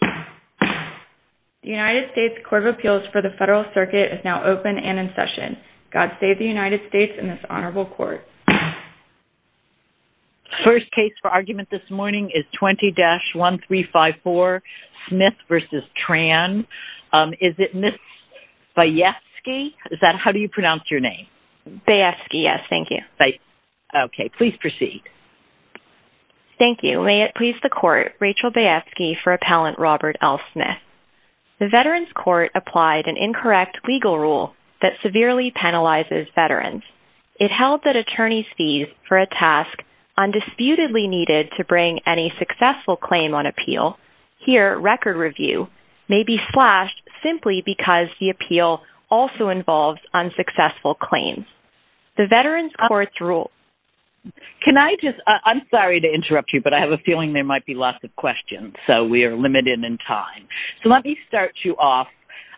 The United States Court of Appeals for the Federal Circuit is now open and in session. God save the United States and this honorable court. First case for argument this morning is 20-1354, Smith v. Tran. Is it Ms. Bayefsky? How do you pronounce your name? Bayefsky, yes, thank you. Okay, please proceed. Thank you. May it please the court, Rachel Bayefsky for appellant Robert L. Smith. The Veterans Court applied an incorrect legal rule that severely penalizes veterans. It held that attorney's fees for a task undisputedly needed to bring any successful claim on appeal, here record review, may be slashed simply because the appeal also involves unsuccessful claims. The Veterans Court's rule. Can I just – I'm sorry to interrupt you, but I have a feeling there might be lots of questions, so we are limited in time. So let me start you off.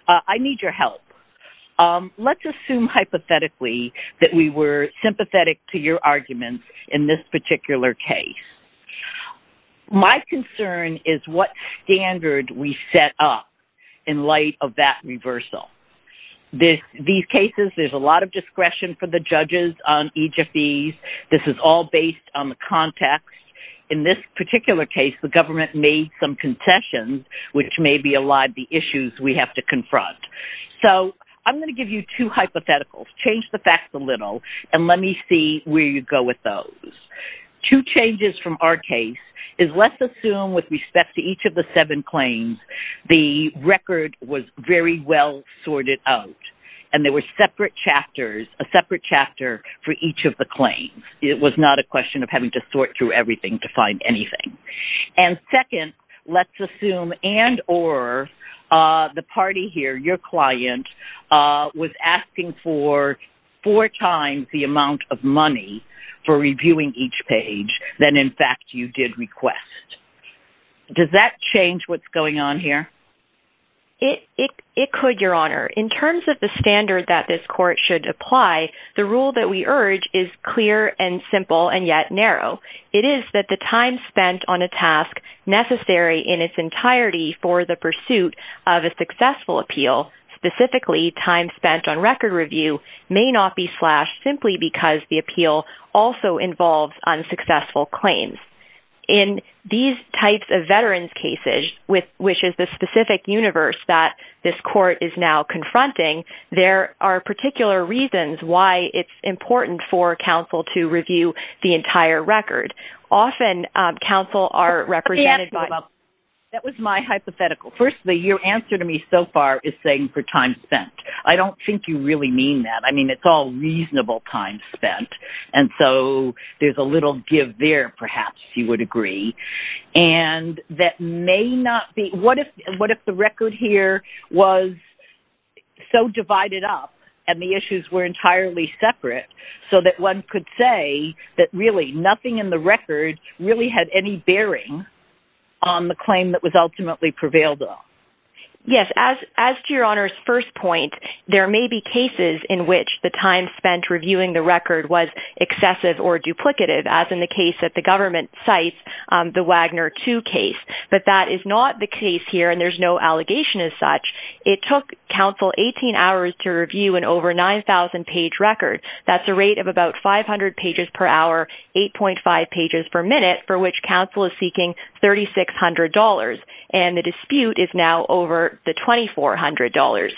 I need your help. Let's assume hypothetically that we were sympathetic to your arguments in this particular case. My concern is what standard we set up in light of that reversal. These cases, there's a lot of discretion for the judges on each of these. This is all based on the context. In this particular case, the government made some concessions, which may be allied to the issues we have to confront. So I'm going to give you two hypotheticals, change the facts a little, and let me see where you go with those. Two changes from our case is let's assume with respect to each of the seven claims, the record was very well sorted out, and there were separate chapters, a separate chapter for each of the claims. It was not a question of having to sort through everything to find anything. And second, let's assume and or the party here, your client, was asking for four times the amount of money for reviewing each page than, in fact, you did request. Does that change what's going on here? It could, Your Honor. In terms of the standard that this court should apply, the rule that we urge is clear and simple and yet narrow. It is that the time spent on a task necessary in its entirety for the pursuit of a successful appeal, specifically time spent on record review, may not be slashed simply because the appeal also involves unsuccessful claims. In these types of veterans' cases, which is the specific universe that this court is now confronting, there are particular reasons why it's important for counsel to review the entire record. Often, counsel are represented by- That was my hypothetical. Firstly, your answer to me so far is saying for time spent. I don't think you really mean that. I mean, it's all reasonable time spent. And so there's a little give there, perhaps you would agree. And that may not be- What if the record here was so divided up and the issues were entirely separate so that one could say that really nothing in the record really had any bearing on the claim that was ultimately prevailed on? Yes. As to your Honour's first point, there may be cases in which the time spent reviewing the record was excessive or duplicative, as in the case that the government cites, the Wagner 2 case. But that is not the case here and there's no allegation as such. It took counsel 18 hours to review an over 9,000-page record. That's a rate of about 500 pages per hour, 8.5 pages per minute, for which counsel is seeking $3,600. And the dispute is now over the $2,400.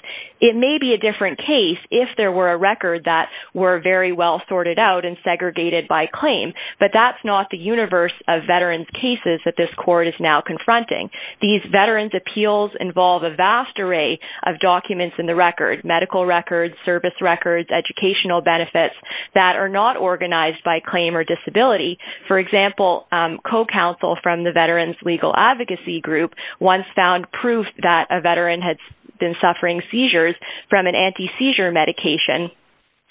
It may be a different case if there were a record that were very well sorted out and segregated by claim, but that's not the universe of veterans' cases that this court is now confronting. These veterans' appeals involve a vast array of documents in the record, medical records, service records, educational benefits, that are not organized by claim or disability. For example, co-counsel from the Veterans Legal Advocacy Group once found proof that a veteran had been suffering seizures from an anti-seizure medication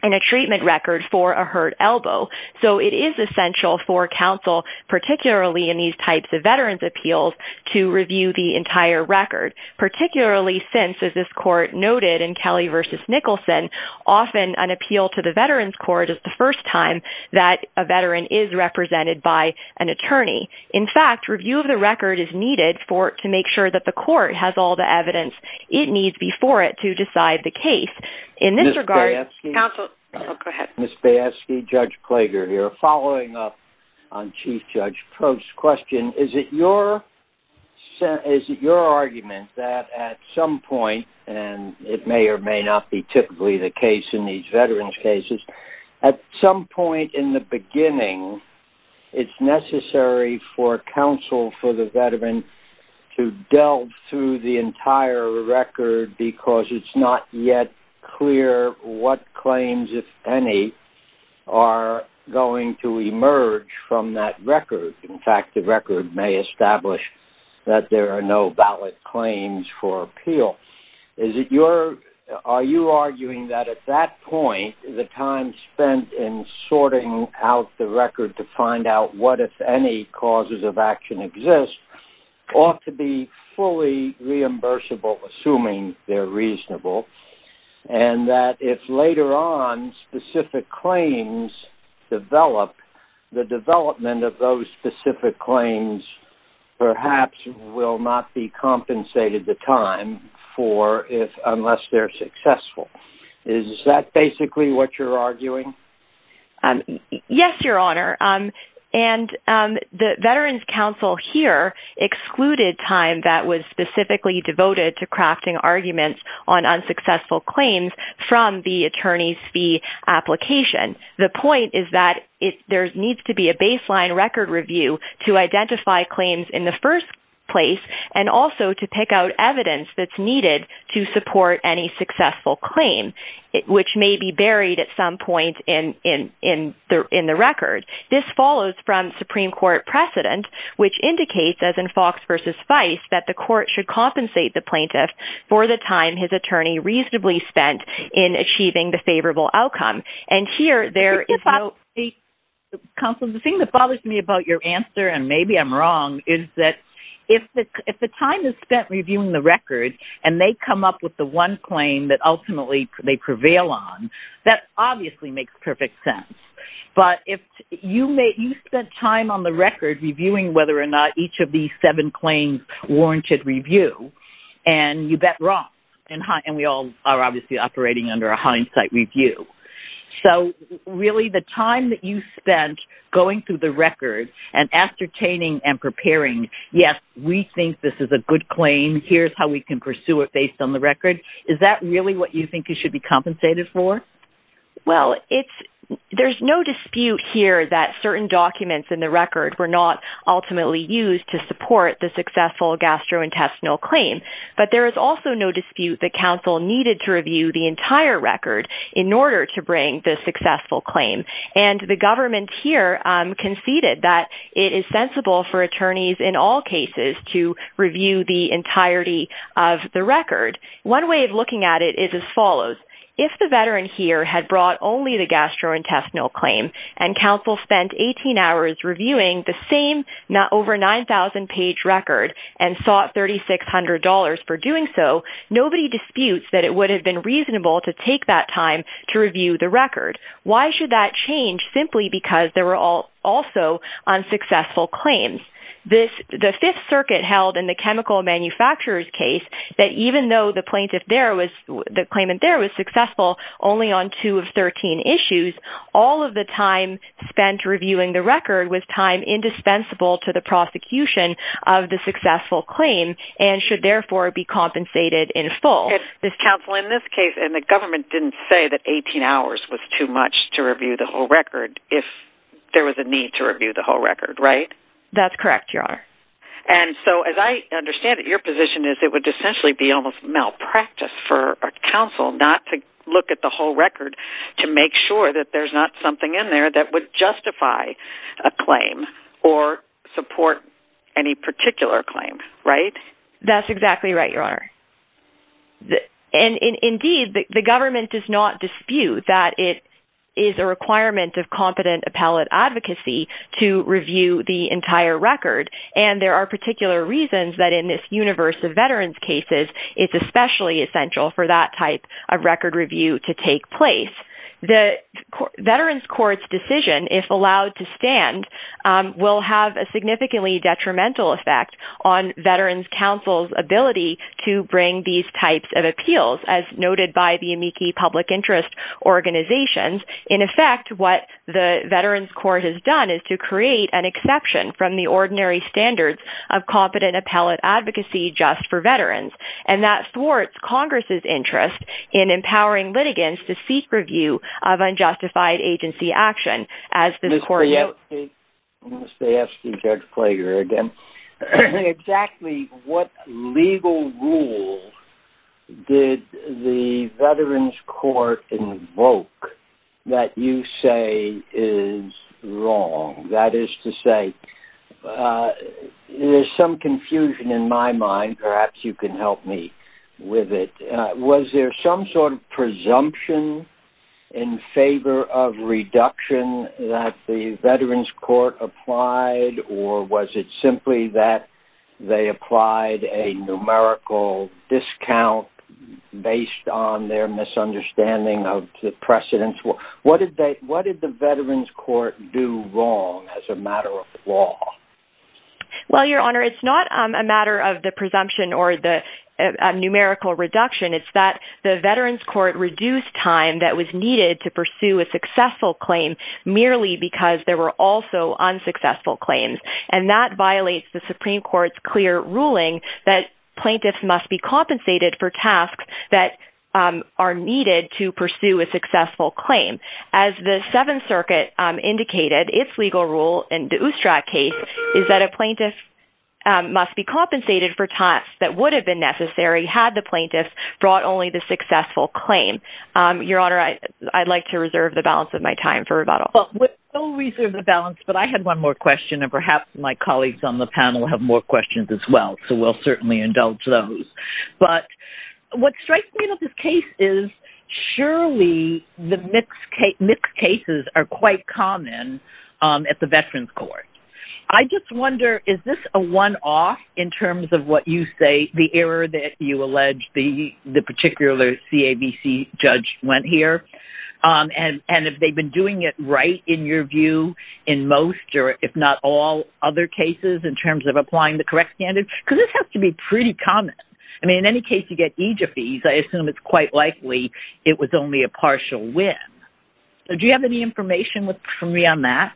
in a treatment record for a hurt elbow. So it is essential for counsel, particularly in these types of veterans' appeals, to review the entire record, particularly since, as this court noted in Kelly v. Nicholson, often an appeal to the veterans' court is the first time that a veteran is represented by an attorney. In fact, review of the record is needed to make sure that the court has all the evidence it needs before it to decide the case. Ms. Bayefsky? Counsel? Oh, go ahead. Ms. Bayefsky, Judge Klager here. Following up on Chief Judge Probst's question, is it your argument that at some point, and it may or may not be typically the case in these veterans' cases, at some point in the beginning it's necessary for counsel for the veteran to delve through the entire record because it's not yet clear what claims, if any, are going to emerge from that record? In fact, the record may establish that there are no valid claims for appeal. Are you arguing that at that point, the time spent in sorting out the record to find out what, if any, causes of action exist, ought to be fully reimbursable, assuming they're reasonable, and that if later on specific claims develop, the development of those specific claims perhaps will not be compensated the time for, unless they're successful? Is that basically what you're arguing? Yes, Your Honor. The veterans' counsel here excluded time that was specifically devoted to crafting arguments on unsuccessful claims from the attorney's fee application. The point is that there needs to be a baseline record review to identify claims in the first place and also to pick out evidence that's needed to support any successful claim, which may be buried at some point in the record. This follows from Supreme Court precedent, which indicates, as in Fox v. Feist, that the court should compensate the plaintiff for the time his attorney reasonably spent in achieving the favorable outcome. Counsel, the thing that bothers me about your answer, and maybe I'm wrong, is that if the time is spent reviewing the record and they come up with the one claim that ultimately they prevail on, that obviously makes perfect sense. But if you spent time on the record reviewing whether or not each of these seven claims warranted review, and you bet wrong, and we all are obviously operating under a hindsight review. So really the time that you spent going through the record and ascertaining and preparing, yes, we think this is a good claim, here's how we can pursue it based on the record, is that really what you think it should be compensated for? Well, there's no dispute here that certain documents in the record were not ultimately used to support the successful gastrointestinal claim. But there is also no dispute that counsel needed to review the entire record in order to bring the successful claim. And the government here conceded that it is sensible for attorneys in all cases to review the entirety of the record. One way of looking at it is as follows. If the veteran here had brought only the gastrointestinal claim, and counsel spent 18 hours reviewing the same over 9,000-page record and sought $3,600 for doing so, nobody disputes that it would have been reasonable to take that time to review the record. Why should that change? Simply because there were also unsuccessful claims. The Fifth Circuit held in the chemical manufacturer's case that even though the plaintiff there was, the claimant there was successful only on two of 13 issues, all of the time spent reviewing the record was time indispensable to the prosecution of the successful claim and should therefore be compensated in full. Counsel, in this case, and the government didn't say that 18 hours was too much to review the whole record if there was a need to review the whole record, right? That's correct, Your Honor. And so as I understand it, your position is it would essentially be almost malpractice for a counsel not to look at the whole record to make sure that there's not something in there that would justify a claim or support any particular claim, right? That's exactly right, Your Honor. And indeed, the government does not dispute that it is a requirement of competent appellate advocacy to review the entire record. And there are particular reasons that in this universe of veterans' cases, it's especially essential for that type of record review to take place. The veterans' court's decision, if allowed to stand, will have a significantly detrimental effect on veterans' counsel's ability to bring these types of appeals as noted by the amici public interest organizations. In effect, what the veterans' court has done is to create an exception from the ordinary standards of competent appellate advocacy just for veterans. And that thwarts Congress's interest in empowering litigants to seek review of unjustified agency action. Mr. Yeltsin, I'm going to ask you, Judge Klager, again, exactly what legal rule did the veterans' court invoke that you say is wrong? That is to say, there's some confusion in my mind. Perhaps you can help me with it. Was there some sort of presumption in favor of reduction that the veterans' court applied, or was it simply that they applied a numerical discount based on their misunderstanding of the precedents? What did the veterans' court do wrong as a matter of law? Well, Your Honor, it's not a matter of the presumption or the numerical reduction. It's that the veterans' court reduced time that was needed to pursue a successful claim merely because there were also unsuccessful claims. And that violates the Supreme Court's clear ruling that plaintiffs must be compensated for tasks that are needed to pursue a successful claim. As the Seventh Circuit indicated, its legal rule in the Oostrad case is that a plaintiff must be compensated for tasks that would have been necessary had the plaintiff brought only the successful claim. Your Honor, I'd like to reserve the balance of my time for rebuttal. Well, we'll reserve the balance, but I had one more question, and perhaps my colleagues on the panel have more questions as well, so we'll certainly indulge those. But what strikes me about this case is surely the mixed cases are quite common at the veterans' court. I just wonder, is this a one-off in terms of what you say, the error that you allege the particular CAVC judge went here, and if they've been doing it right in your view in most or if not all other cases in terms of applying the correct standard? Because this has to be pretty common. I mean, in any case, you get each of these. I assume it's quite likely it was only a partial win. Do you have any information from me on that?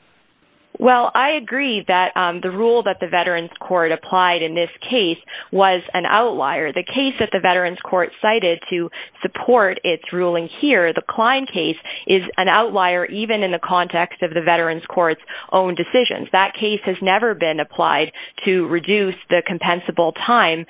Well, I agree that the rule that the veterans' court applied in this case was an outlier. The case that the veterans' court cited to support its ruling here, the Klein case, is an outlier even in the context of the veterans' court's own decisions. That case has never been applied to reduce the compensable time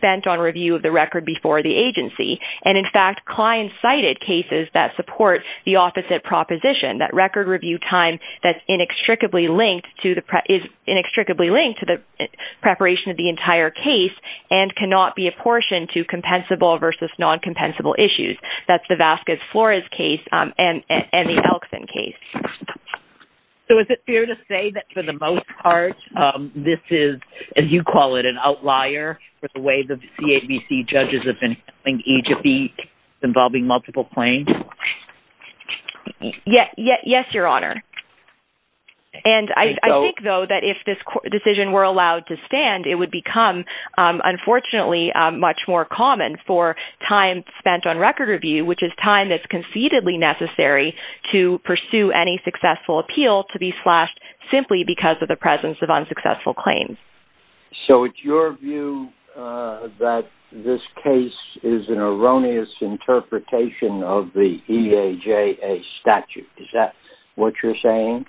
spent on review of the record before the agency. And, in fact, Klein cited cases that support the opposite proposition, that record review time that is inextricably linked to the preparation of the entire case and cannot be apportioned to compensable versus non-compensable issues. That's the Vasquez-Flores case and the Elkson case. So is it fair to say that, for the most part, this is, as you call it, an outlier with the way the CAVC judges have been handling each of these involving multiple claims? Yes, Your Honor. And I think, though, that if this decision were allowed to stand, it would become, unfortunately, much more common for time spent on record review, which is time that's concededly necessary to pursue any successful appeal, to be slashed simply because of the presence of unsuccessful claims. So it's your view that this case is an erroneous interpretation of the EAJA statute. Is that what you're saying?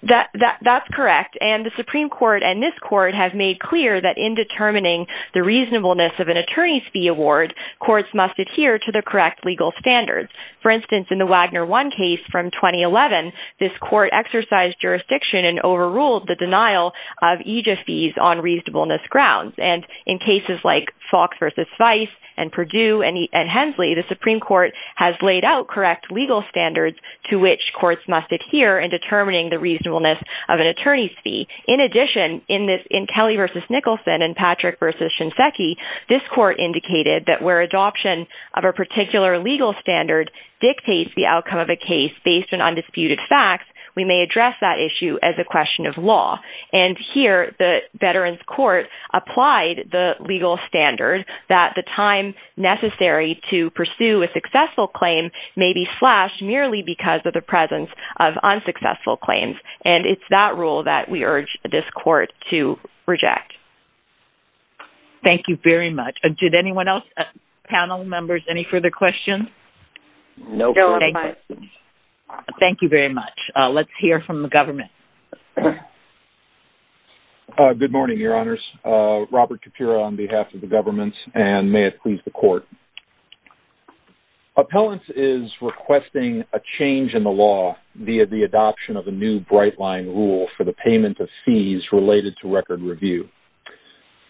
That's correct. And the Supreme Court and this court have made clear that, in determining the reasonableness of an attorney's fee award, courts must adhere to the correct legal standards. For instance, in the Wagner 1 case from 2011, this court exercised jurisdiction and overruled the denial of EAJA fees on reasonableness grounds. And in cases like Fox v. Vice and Perdue and Hensley, the Supreme Court has laid out correct legal standards to which courts must adhere in determining the reasonableness of an attorney's fee. In addition, in Kelly v. Nicholson and Patrick v. Shinseki, this court indicated that where adoption of a particular legal standard dictates the outcome of a case based on undisputed facts, we may address that issue as a question of law. And here, the Veterans Court applied the legal standard that the time necessary to pursue a successful claim may be slashed merely because of the presence of unsuccessful claims. And it's that rule that we urge this court to reject. Thank you very much. Did anyone else? Panel members, any further questions? No further questions. Thank you very much. Let's hear from the government. Good morning, Your Honors. Robert Capura on behalf of the government and may it please the court. Appellants is requesting a change in the law via the adoption of a new bright-line rule for the payment of fees related to record review.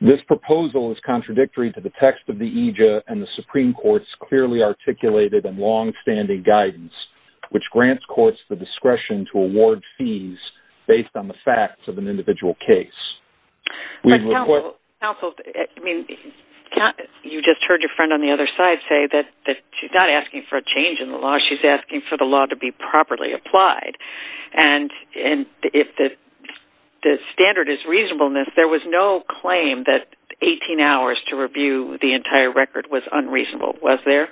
This proposal is contradictory to the text of the EJA and the Supreme Court's clearly articulated and long-standing guidance, which grants courts the discretion to award fees based on the facts of an individual case. But counsel, you just heard your friend on the other side say that she's not asking for a change in the law. She's asking for the law to be properly applied. And if the standard is reasonableness, there was no claim that 18 hours to review the entire record was unreasonable. Was there?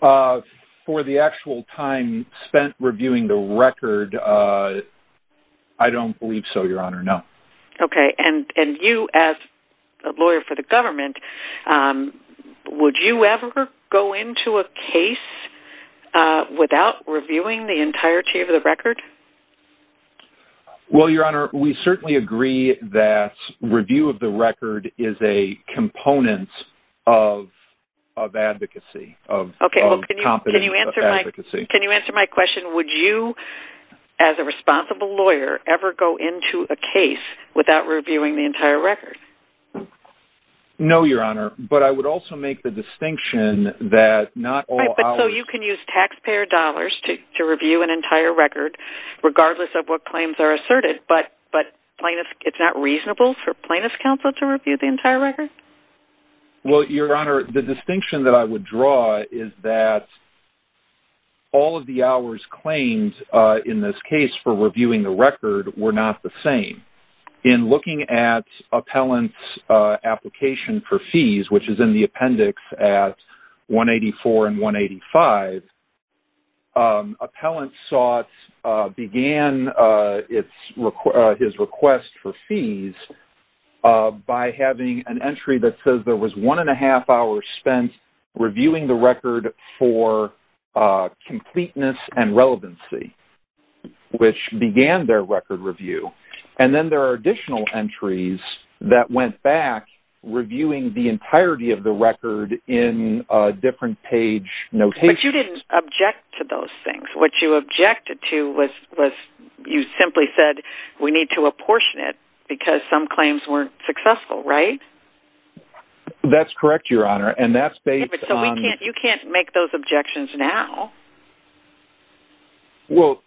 For the actual time spent reviewing the record, I don't believe so, Your Honor, no. Okay. And you, as a lawyer for the government, would you ever go into a case without reviewing the entirety of the record? Well, Your Honor, we certainly agree that review of the record is a component of advocacy. Okay. Can you answer my question? Would you, as a responsible lawyer, ever go into a case without reviewing the entire record? No, Your Honor, but I would also make the distinction that not all hours... Right, but so you can use taxpayer dollars to review an entire record regardless of what claims are asserted, but it's not reasonable for plaintiff's counsel to review the entire record? Well, Your Honor, the distinction that I would draw is that all of the hours claimed in this case for reviewing the record were not the same. In looking at appellant's application for fees, which is in the appendix at 184 and 185, appellant sought, began his request for fees by having an entry that says there was one and a half hours spent reviewing the record for completeness and relevancy, which began their record review. And then there are additional entries that went back reviewing the entirety of the record in different page notations. But you didn't object to those things. What you objected to was you simply said we need to apportion it because some claims weren't successful, right? That's correct, Your Honor, and that's based on... But you can't make those objections now. Well,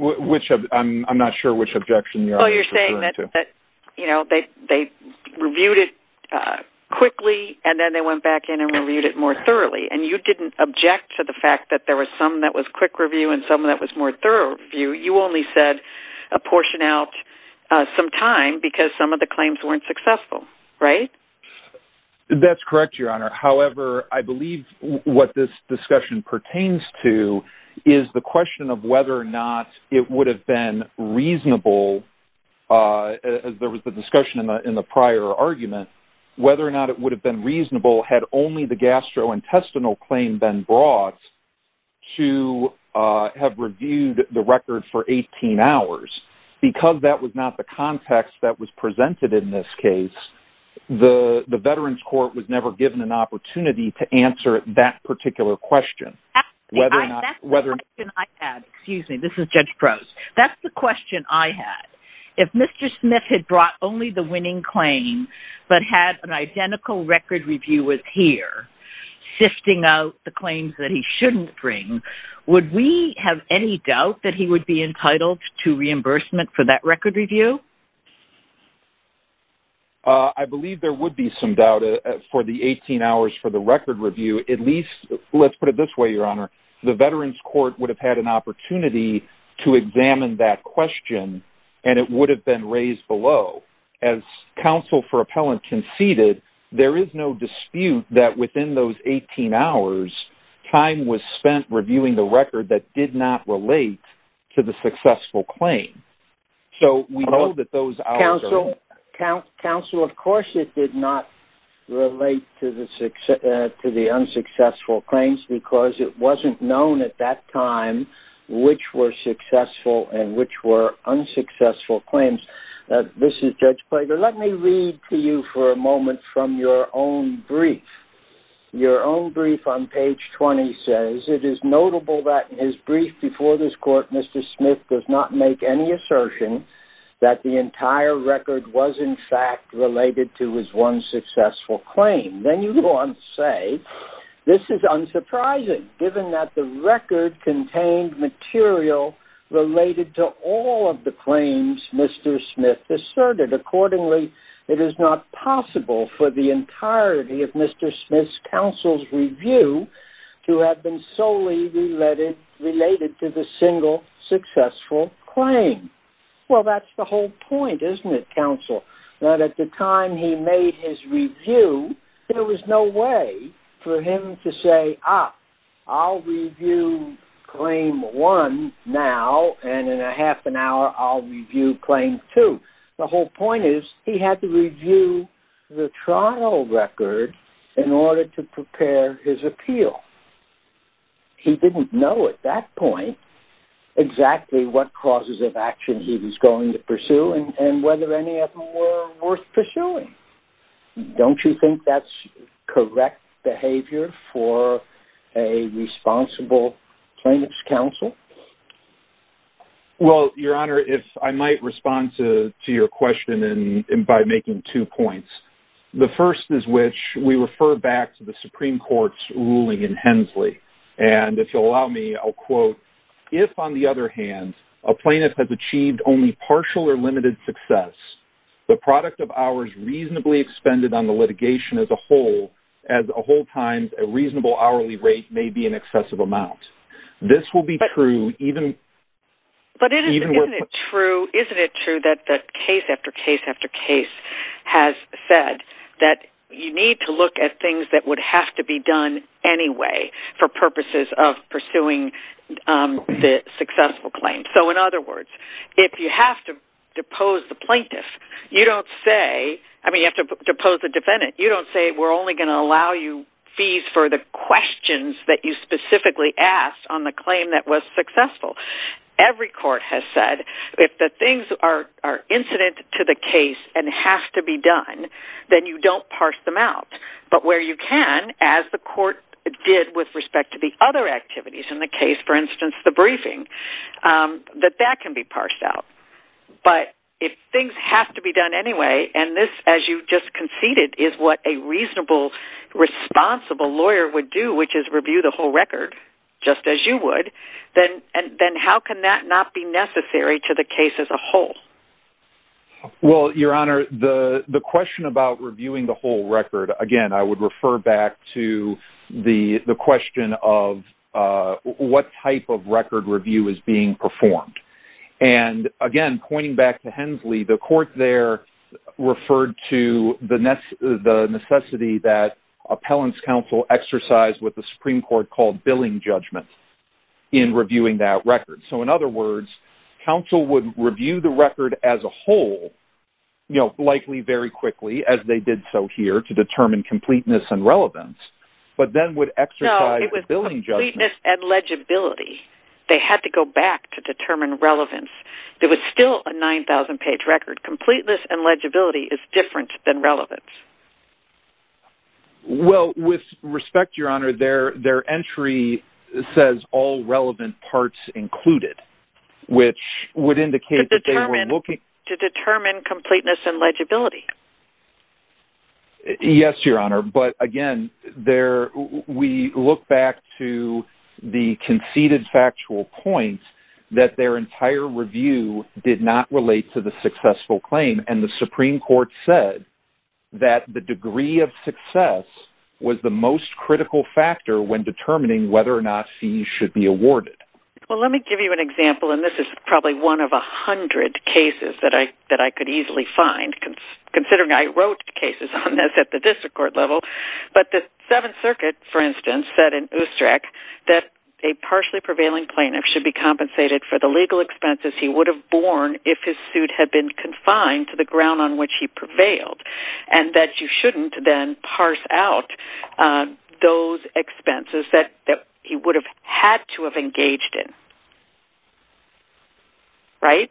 I'm not sure which objection you're referring to. Well, you're saying that they reviewed it quickly and then they went back in and reviewed it more thoroughly, and you didn't object to the fact that there was some that was quick review and some that was more thorough review. You only said apportion out some time because some of the claims weren't successful, right? That's correct, Your Honor. However, I believe what this discussion pertains to is the question of whether or not it would have been reasonable, as there was a discussion in the prior argument, whether or not it would have been reasonable had only the gastrointestinal claim been brought to have reviewed the record for 18 hours. Because that was not the context that was presented in this case, the Veterans Court was never given an opportunity to answer that particular question. That's the question I had. Excuse me. This is Judge Gross. That's the question I had. If Mr. Smith had brought only the winning claim but had an identical record review with here, sifting out the claims that he shouldn't bring, would we have any doubt that he would be entitled to reimbursement for that record review? I believe there would be some doubt for the 18 hours for the record review. At least, let's put it this way, Your Honor. The Veterans Court would have had an opportunity to examine that question, and it would have been raised below. As counsel for appellant conceded, there is no dispute that within those 18 hours, time was spent reviewing the record that did not relate to the successful claim. So we know that those hours are... Counsel, of course it did not relate to the unsuccessful claims because it wasn't known at that time which were successful and which were unsuccessful claims. This is Judge Plager. Let me read to you for a moment from your own brief. Your own brief on page 20 says, it is notable that in his brief before this court, Mr. Smith does not make any assertion that the entire record was, in fact, related to his one successful claim. Then you go on to say, this is unsurprising given that the record contained material related to all of the claims Mr. Smith asserted. Accordingly, it is not possible for the entirety of Mr. Smith's counsel's review to have been solely related to the single successful claim. Well, that's the whole point, isn't it, counsel? That at the time he made his review, there was no way for him to say, ah, I'll review claim one now and in a half an hour I'll review claim two. The whole point is he had to review the trial record in order to prepare his appeal. He didn't know at that point exactly what causes of action he was going to pursue and whether any of them were worth pursuing. Don't you think that's correct behavior for a responsible plaintiff's counsel? Well, Your Honor, if I might respond to your question by making two points. The first is which we refer back to the Supreme Court's ruling in Hensley. If, on the other hand, a plaintiff has achieved only partial or limited success, the product of hours reasonably expended on the litigation as a whole, as a whole time, a reasonable hourly rate may be an excessive amount. This will be true even... But isn't it true that the case after case after case has said that you need to look at things that would have to be done anyway for purposes of pursuing the successful claim? So, in other words, if you have to depose the plaintiff, you don't say... I mean, you have to depose the defendant. You don't say we're only going to allow you fees for the questions that you specifically asked on the claim that was successful. Every court has said if the things are incident to the case and have to be done, then you don't parse them out. But where you can, as the court did with respect to the other activities in the case, for instance, the briefing, that that can be parsed out. But if things have to be done anyway, and this, as you just conceded, is what a reasonable, responsible lawyer would do, which is review the whole record, just as you would, then how can that not be necessary to the case as a whole? Well, Your Honor, the question about reviewing the whole record, again, I would refer back to the question of what type of record review is being performed. And, again, pointing back to Hensley, the court there referred to the necessity that appellant's counsel exercised what the Supreme Court called billing judgment in reviewing that record. So, in other words, counsel would review the record as a whole, likely very quickly, as they did so here, to determine completeness and relevance, but then would exercise billing judgment. No, it was completeness and legibility. They had to go back to determine relevance. It was still a 9,000-page record. Completeness and legibility is different than relevance. Well, with respect, Your Honor, their entry says all relevant parts included, which would indicate that they were looking... To determine completeness and legibility. Yes, Your Honor, but, again, we look back to the conceded factual point that their entire review did not relate to the successful claim, and the Supreme Court said that the degree of success was the most critical factor when determining whether or not fees should be awarded. Well, let me give you an example, and this is probably one of a hundred cases that I could easily find, considering I wrote cases on this at the district court level. But the Seventh Circuit, for instance, said in Ustrak that a partially prevailing plaintiff should be compensated for the legal expenses he would have borne if his suit had been confined to the ground on which he prevailed, and that you shouldn't then parse out those expenses that he would have had to have engaged in. Right?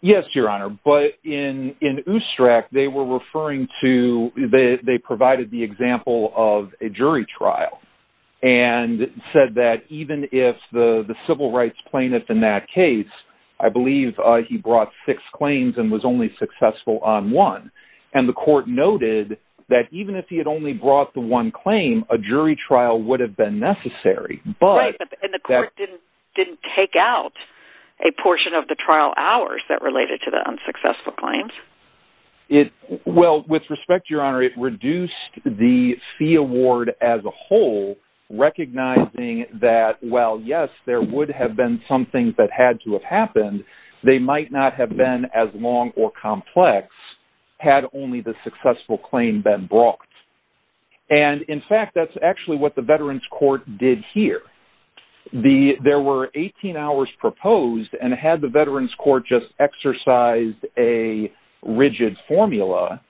Yes, Your Honor, but in Ustrak, they were referring to... They provided the example of a jury trial and said that even if the civil rights plaintiff in that case, I believe he brought six claims and was only successful on one, and the court noted that even if he had only brought the one claim, a jury trial would have been necessary, but... Right, and the court didn't take out a portion of the trial hours that related to the unsuccessful claims. Well, with respect, Your Honor, it reduced the fee award as a whole, recognizing that while, yes, there would have been some things that had to have happened, they might not have been as long or complex had only the successful claim been brought. And in fact, that's actually what the Veterans Court did here. There were 18 hours proposed, and had the Veterans Court just exercised a rigid formula,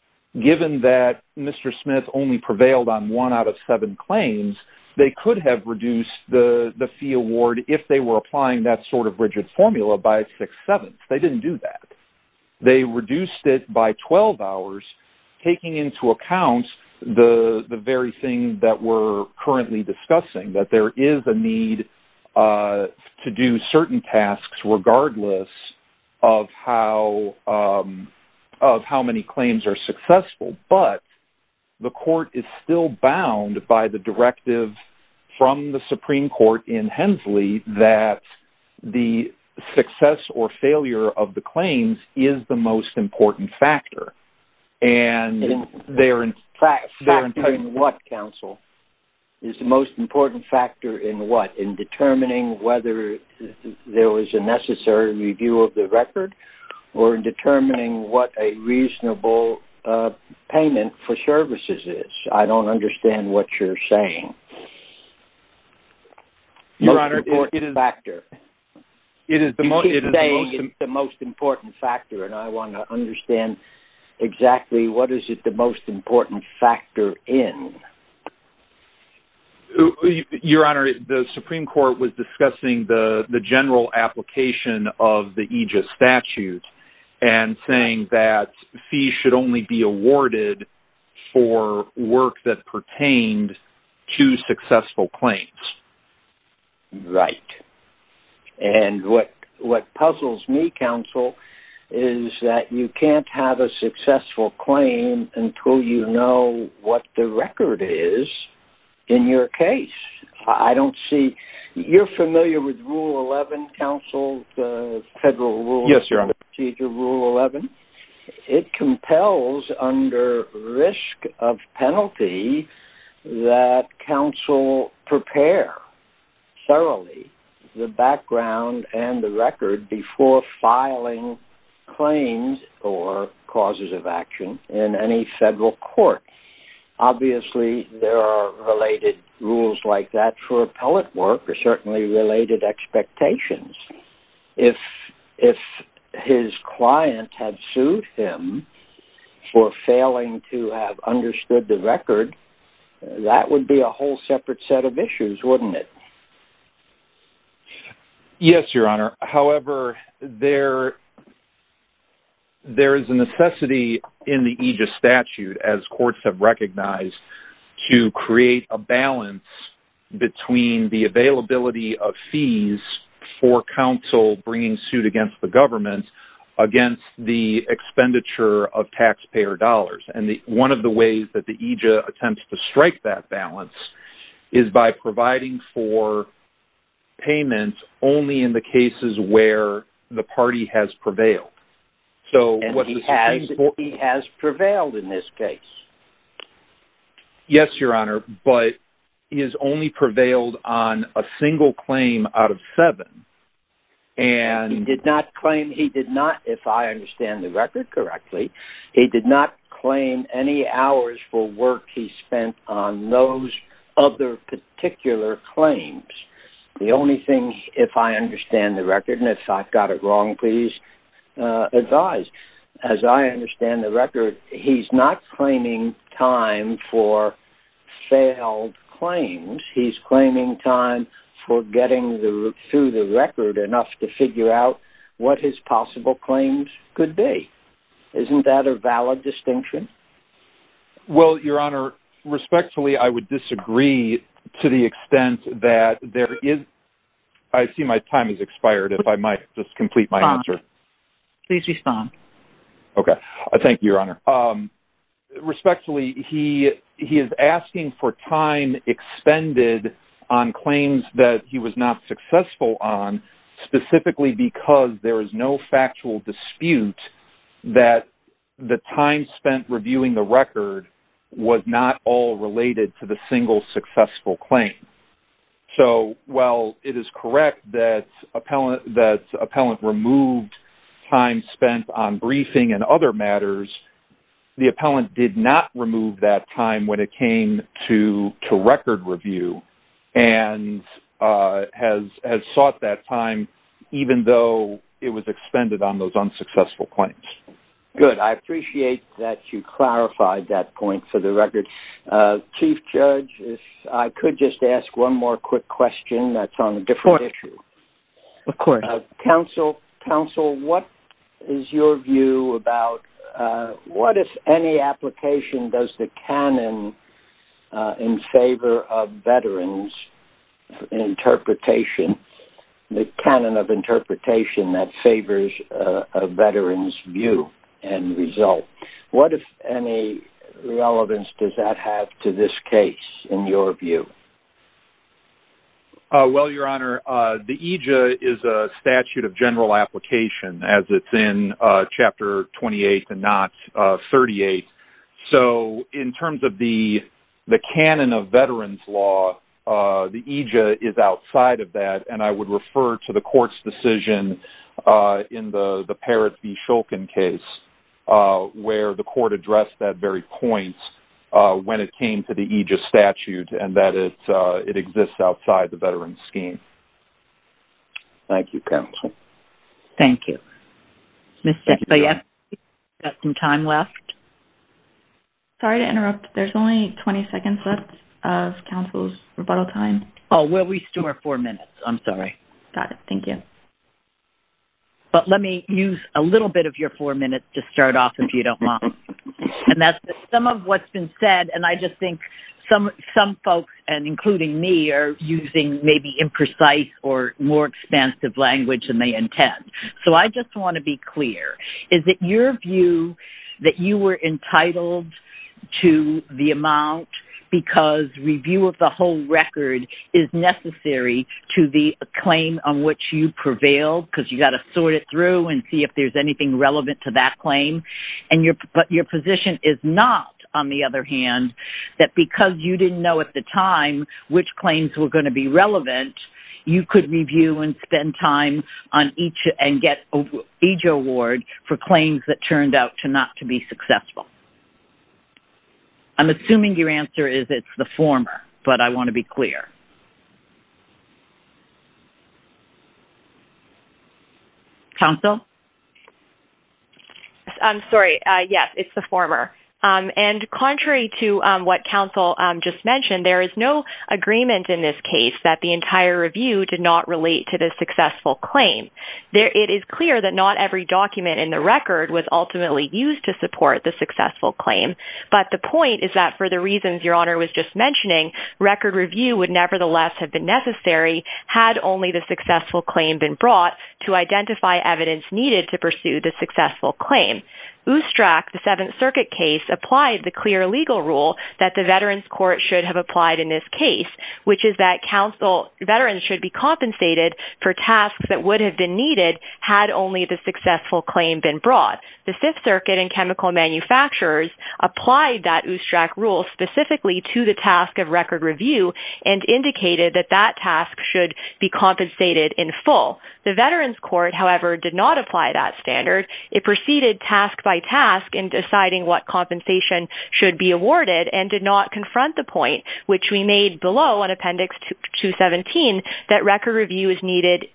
given that Mr. Smith only prevailed on one out of seven claims, they could have reduced the fee award if they were applying that sort of rigid formula by six-sevenths. They didn't do that. They reduced it by 12 hours, taking into account the very thing that we're currently discussing, that there is a need to do certain tasks regardless of how many claims are successful, but the court is still bound by the directive from the Supreme Court in Hensley that the success or failure of the claims is the most important factor. Factor in what, counsel? Is the most important factor in what? In determining whether there was a necessary review of the record? Or in determining what a reasonable payment for services is? I don't understand what you're saying. Your Honor, it is the most important factor. And I want to understand exactly what is it the most important factor in. Your Honor, the Supreme Court was discussing the general application of the Aegis Statute and saying that fees should only be awarded for work that pertained to successful claims. Right. And what puzzles me, counsel, is that you can't have a successful claim until you know what the record is in your case. I don't see... You're familiar with Rule 11, counsel? Federal Rule 11? Yes, Your Honor. Procedure Rule 11, it compels under risk of penalty that counsel prepare thoroughly the background and the record before filing claims or causes of action in any federal court. Obviously, there are related rules like that for appellate work or certainly related expectations. If his client had sued him for failing to have understood the record, that would be a whole separate set of issues, wouldn't it? Yes, Your Honor. However, there is a necessity in the Aegis Statute, as courts have recognized, to create a balance between the availability of fees for counsel bringing suit against the government against the expenditure of taxpayer dollars. And one of the ways that the Aegis attempts to strike that balance is by providing for payments only in the cases where the party has prevailed. And he has prevailed in this case. Yes, Your Honor, but he has only prevailed on a single claim out of seven. He did not claim, if I understand the record correctly, he did not claim any hours for work he spent on those other particular claims. The only thing, if I understand the record, and if I've got it wrong, please advise. As I understand the record, he's not claiming time for failed claims. He's claiming time for getting through the record enough to figure out what his possible claims could be. Isn't that a valid distinction? Well, Your Honor, respectfully, I would disagree to the extent that there is... I see my time has expired, if I might just complete my answer. Please respond. Okay. Thank you, Your Honor. Respectfully, he is asking for time expended on claims that he was not successful on specifically because there is no factual dispute that the time spent reviewing the record was not all related to the single successful claim. So, while it is correct that the appellant removed time spent on briefing and other matters, the appellant did not remove that time when it came to record review and has sought that time even though it was expended on those unsuccessful claims. Good. I appreciate that you clarified that point for the record. Chief Judge, if I could just ask one more quick question that's on a different issue. Of course. Counsel, what is your view about what, if any application, does the canon in favor of veterans interpretation, the canon of interpretation that favors a veteran's view and result, what, if any, relevance does that have to this case in your view? Well, Your Honor, the EJA is a statute of general application as it's in Chapter 28 and not 38. So, in terms of the canon of veterans law, the EJA is outside of that and I would refer to the court's decision in the Parrott v. Shulkin case where the court addressed that very point when it came to the EJA statute and that it exists outside the veteran's scheme. Thank you, counsel. Thank you. Ms. Stachowiak, you've got some time left. Sorry to interrupt. There's only 20 seconds left of counsel's rebuttal time. Oh, we'll restore four minutes. I'm sorry. Got it. Thank you. But let me use a little bit of your four minutes to start off if you don't mind. Some of what's been said, and I just think some folks, including me, are using maybe imprecise or more expansive language than they intend. So, I just want to be clear. Is it your view that you were entitled to the amount because review of the whole record is necessary to the claim on which you prevailed because you've got to sort it through and see if there's anything relevant to that claim, but your position is not, on the other hand, that because you didn't know at the time which claims were going to be relevant, you could review and spend time and get an EJA award for claims that turned out not to be successful? I'm assuming your answer is it's the former, but I want to be clear. Counsel? I'm sorry. Yes, it's the former. And contrary to what counsel just mentioned, there is no agreement in this case that the entire review did not relate to the successful claim. It is clear that not every document in the record was ultimately used to support the successful claim, but the point is that for the reasons Your Honor was just mentioning, record review would nevertheless have been necessary had only the successful claim been brought to identify evidence needed to pursue the successful claim. Oostrack, the Seventh Circuit case, applied the clear legal rule that the Veterans Court should have applied in this case, which is that veterans should be compensated for tasks that would have been needed had only the successful claim been brought. The Fifth Circuit and chemical manufacturers applied that Oostrack rule specifically to the task of record review and indicated that that task should be compensated in full. The Veterans Court, however, did not apply that standard. It proceeded task by task in deciding what compensation should be awarded and did not confront the point, which we made below in Appendix 217, that record review is needed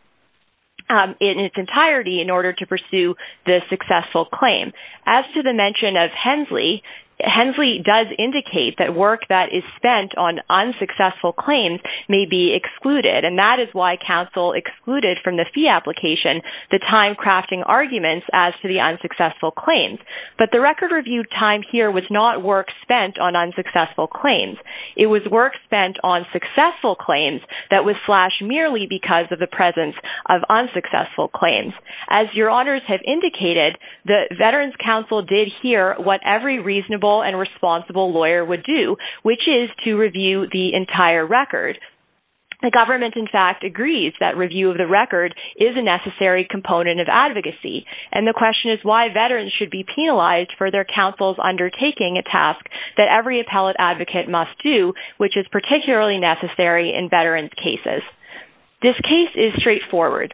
in its entirety in order to pursue the successful claim. As to the mention of Hensley, Hensley does indicate that work that is spent on unsuccessful claims may be excluded and that is why counsel excluded from the fee application the time crafting arguments as to the unsuccessful claims. But the record review time here was not work spent on unsuccessful claims. It was work spent on successful claims that was slashed merely because of the presence of unsuccessful claims. As your honors have indicated, the Veterans Council did hear what every reasonable and responsible lawyer would do, which is to review the entire record. The government, in fact, agrees that review of the record is a necessary component of advocacy and the question is why veterans should be penalized for their counsel's undertaking a task that every appellate advocate must do, which is particularly necessary in veterans' cases. This case is straightforward.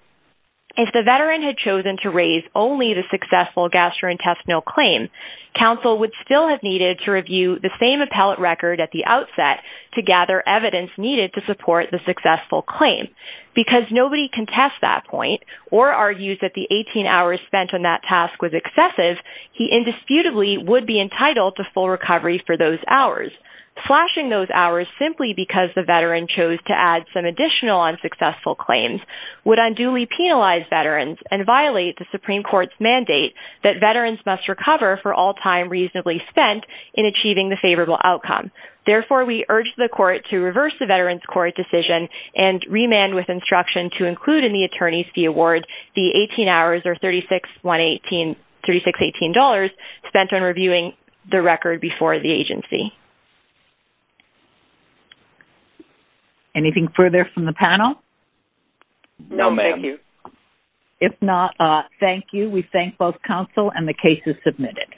If the veteran had chosen to raise only the successful gastrointestinal claim, counsel would still have needed to review the same appellate record at the outset to gather evidence needed to support the successful claim Because nobody contests that point or argues that the 18 hours spent on that task was excessive, he indisputably would be entitled to full recovery for those hours. Slashing those hours simply because the veteran chose to add some additional unsuccessful claims would unduly penalize veterans and violate the Supreme Court's mandate that veterans must recover for all time reasonably spent in achieving the favorable outcome. Therefore, we urge the court to reverse the veteran's court decision and remand with instruction to include in the attorney's fee award the 18 hours or $3618 spent on reviewing the record before the agency. Anything further from the panel? No, ma'am. If not, thank you. We thank both counsel and the cases submitted.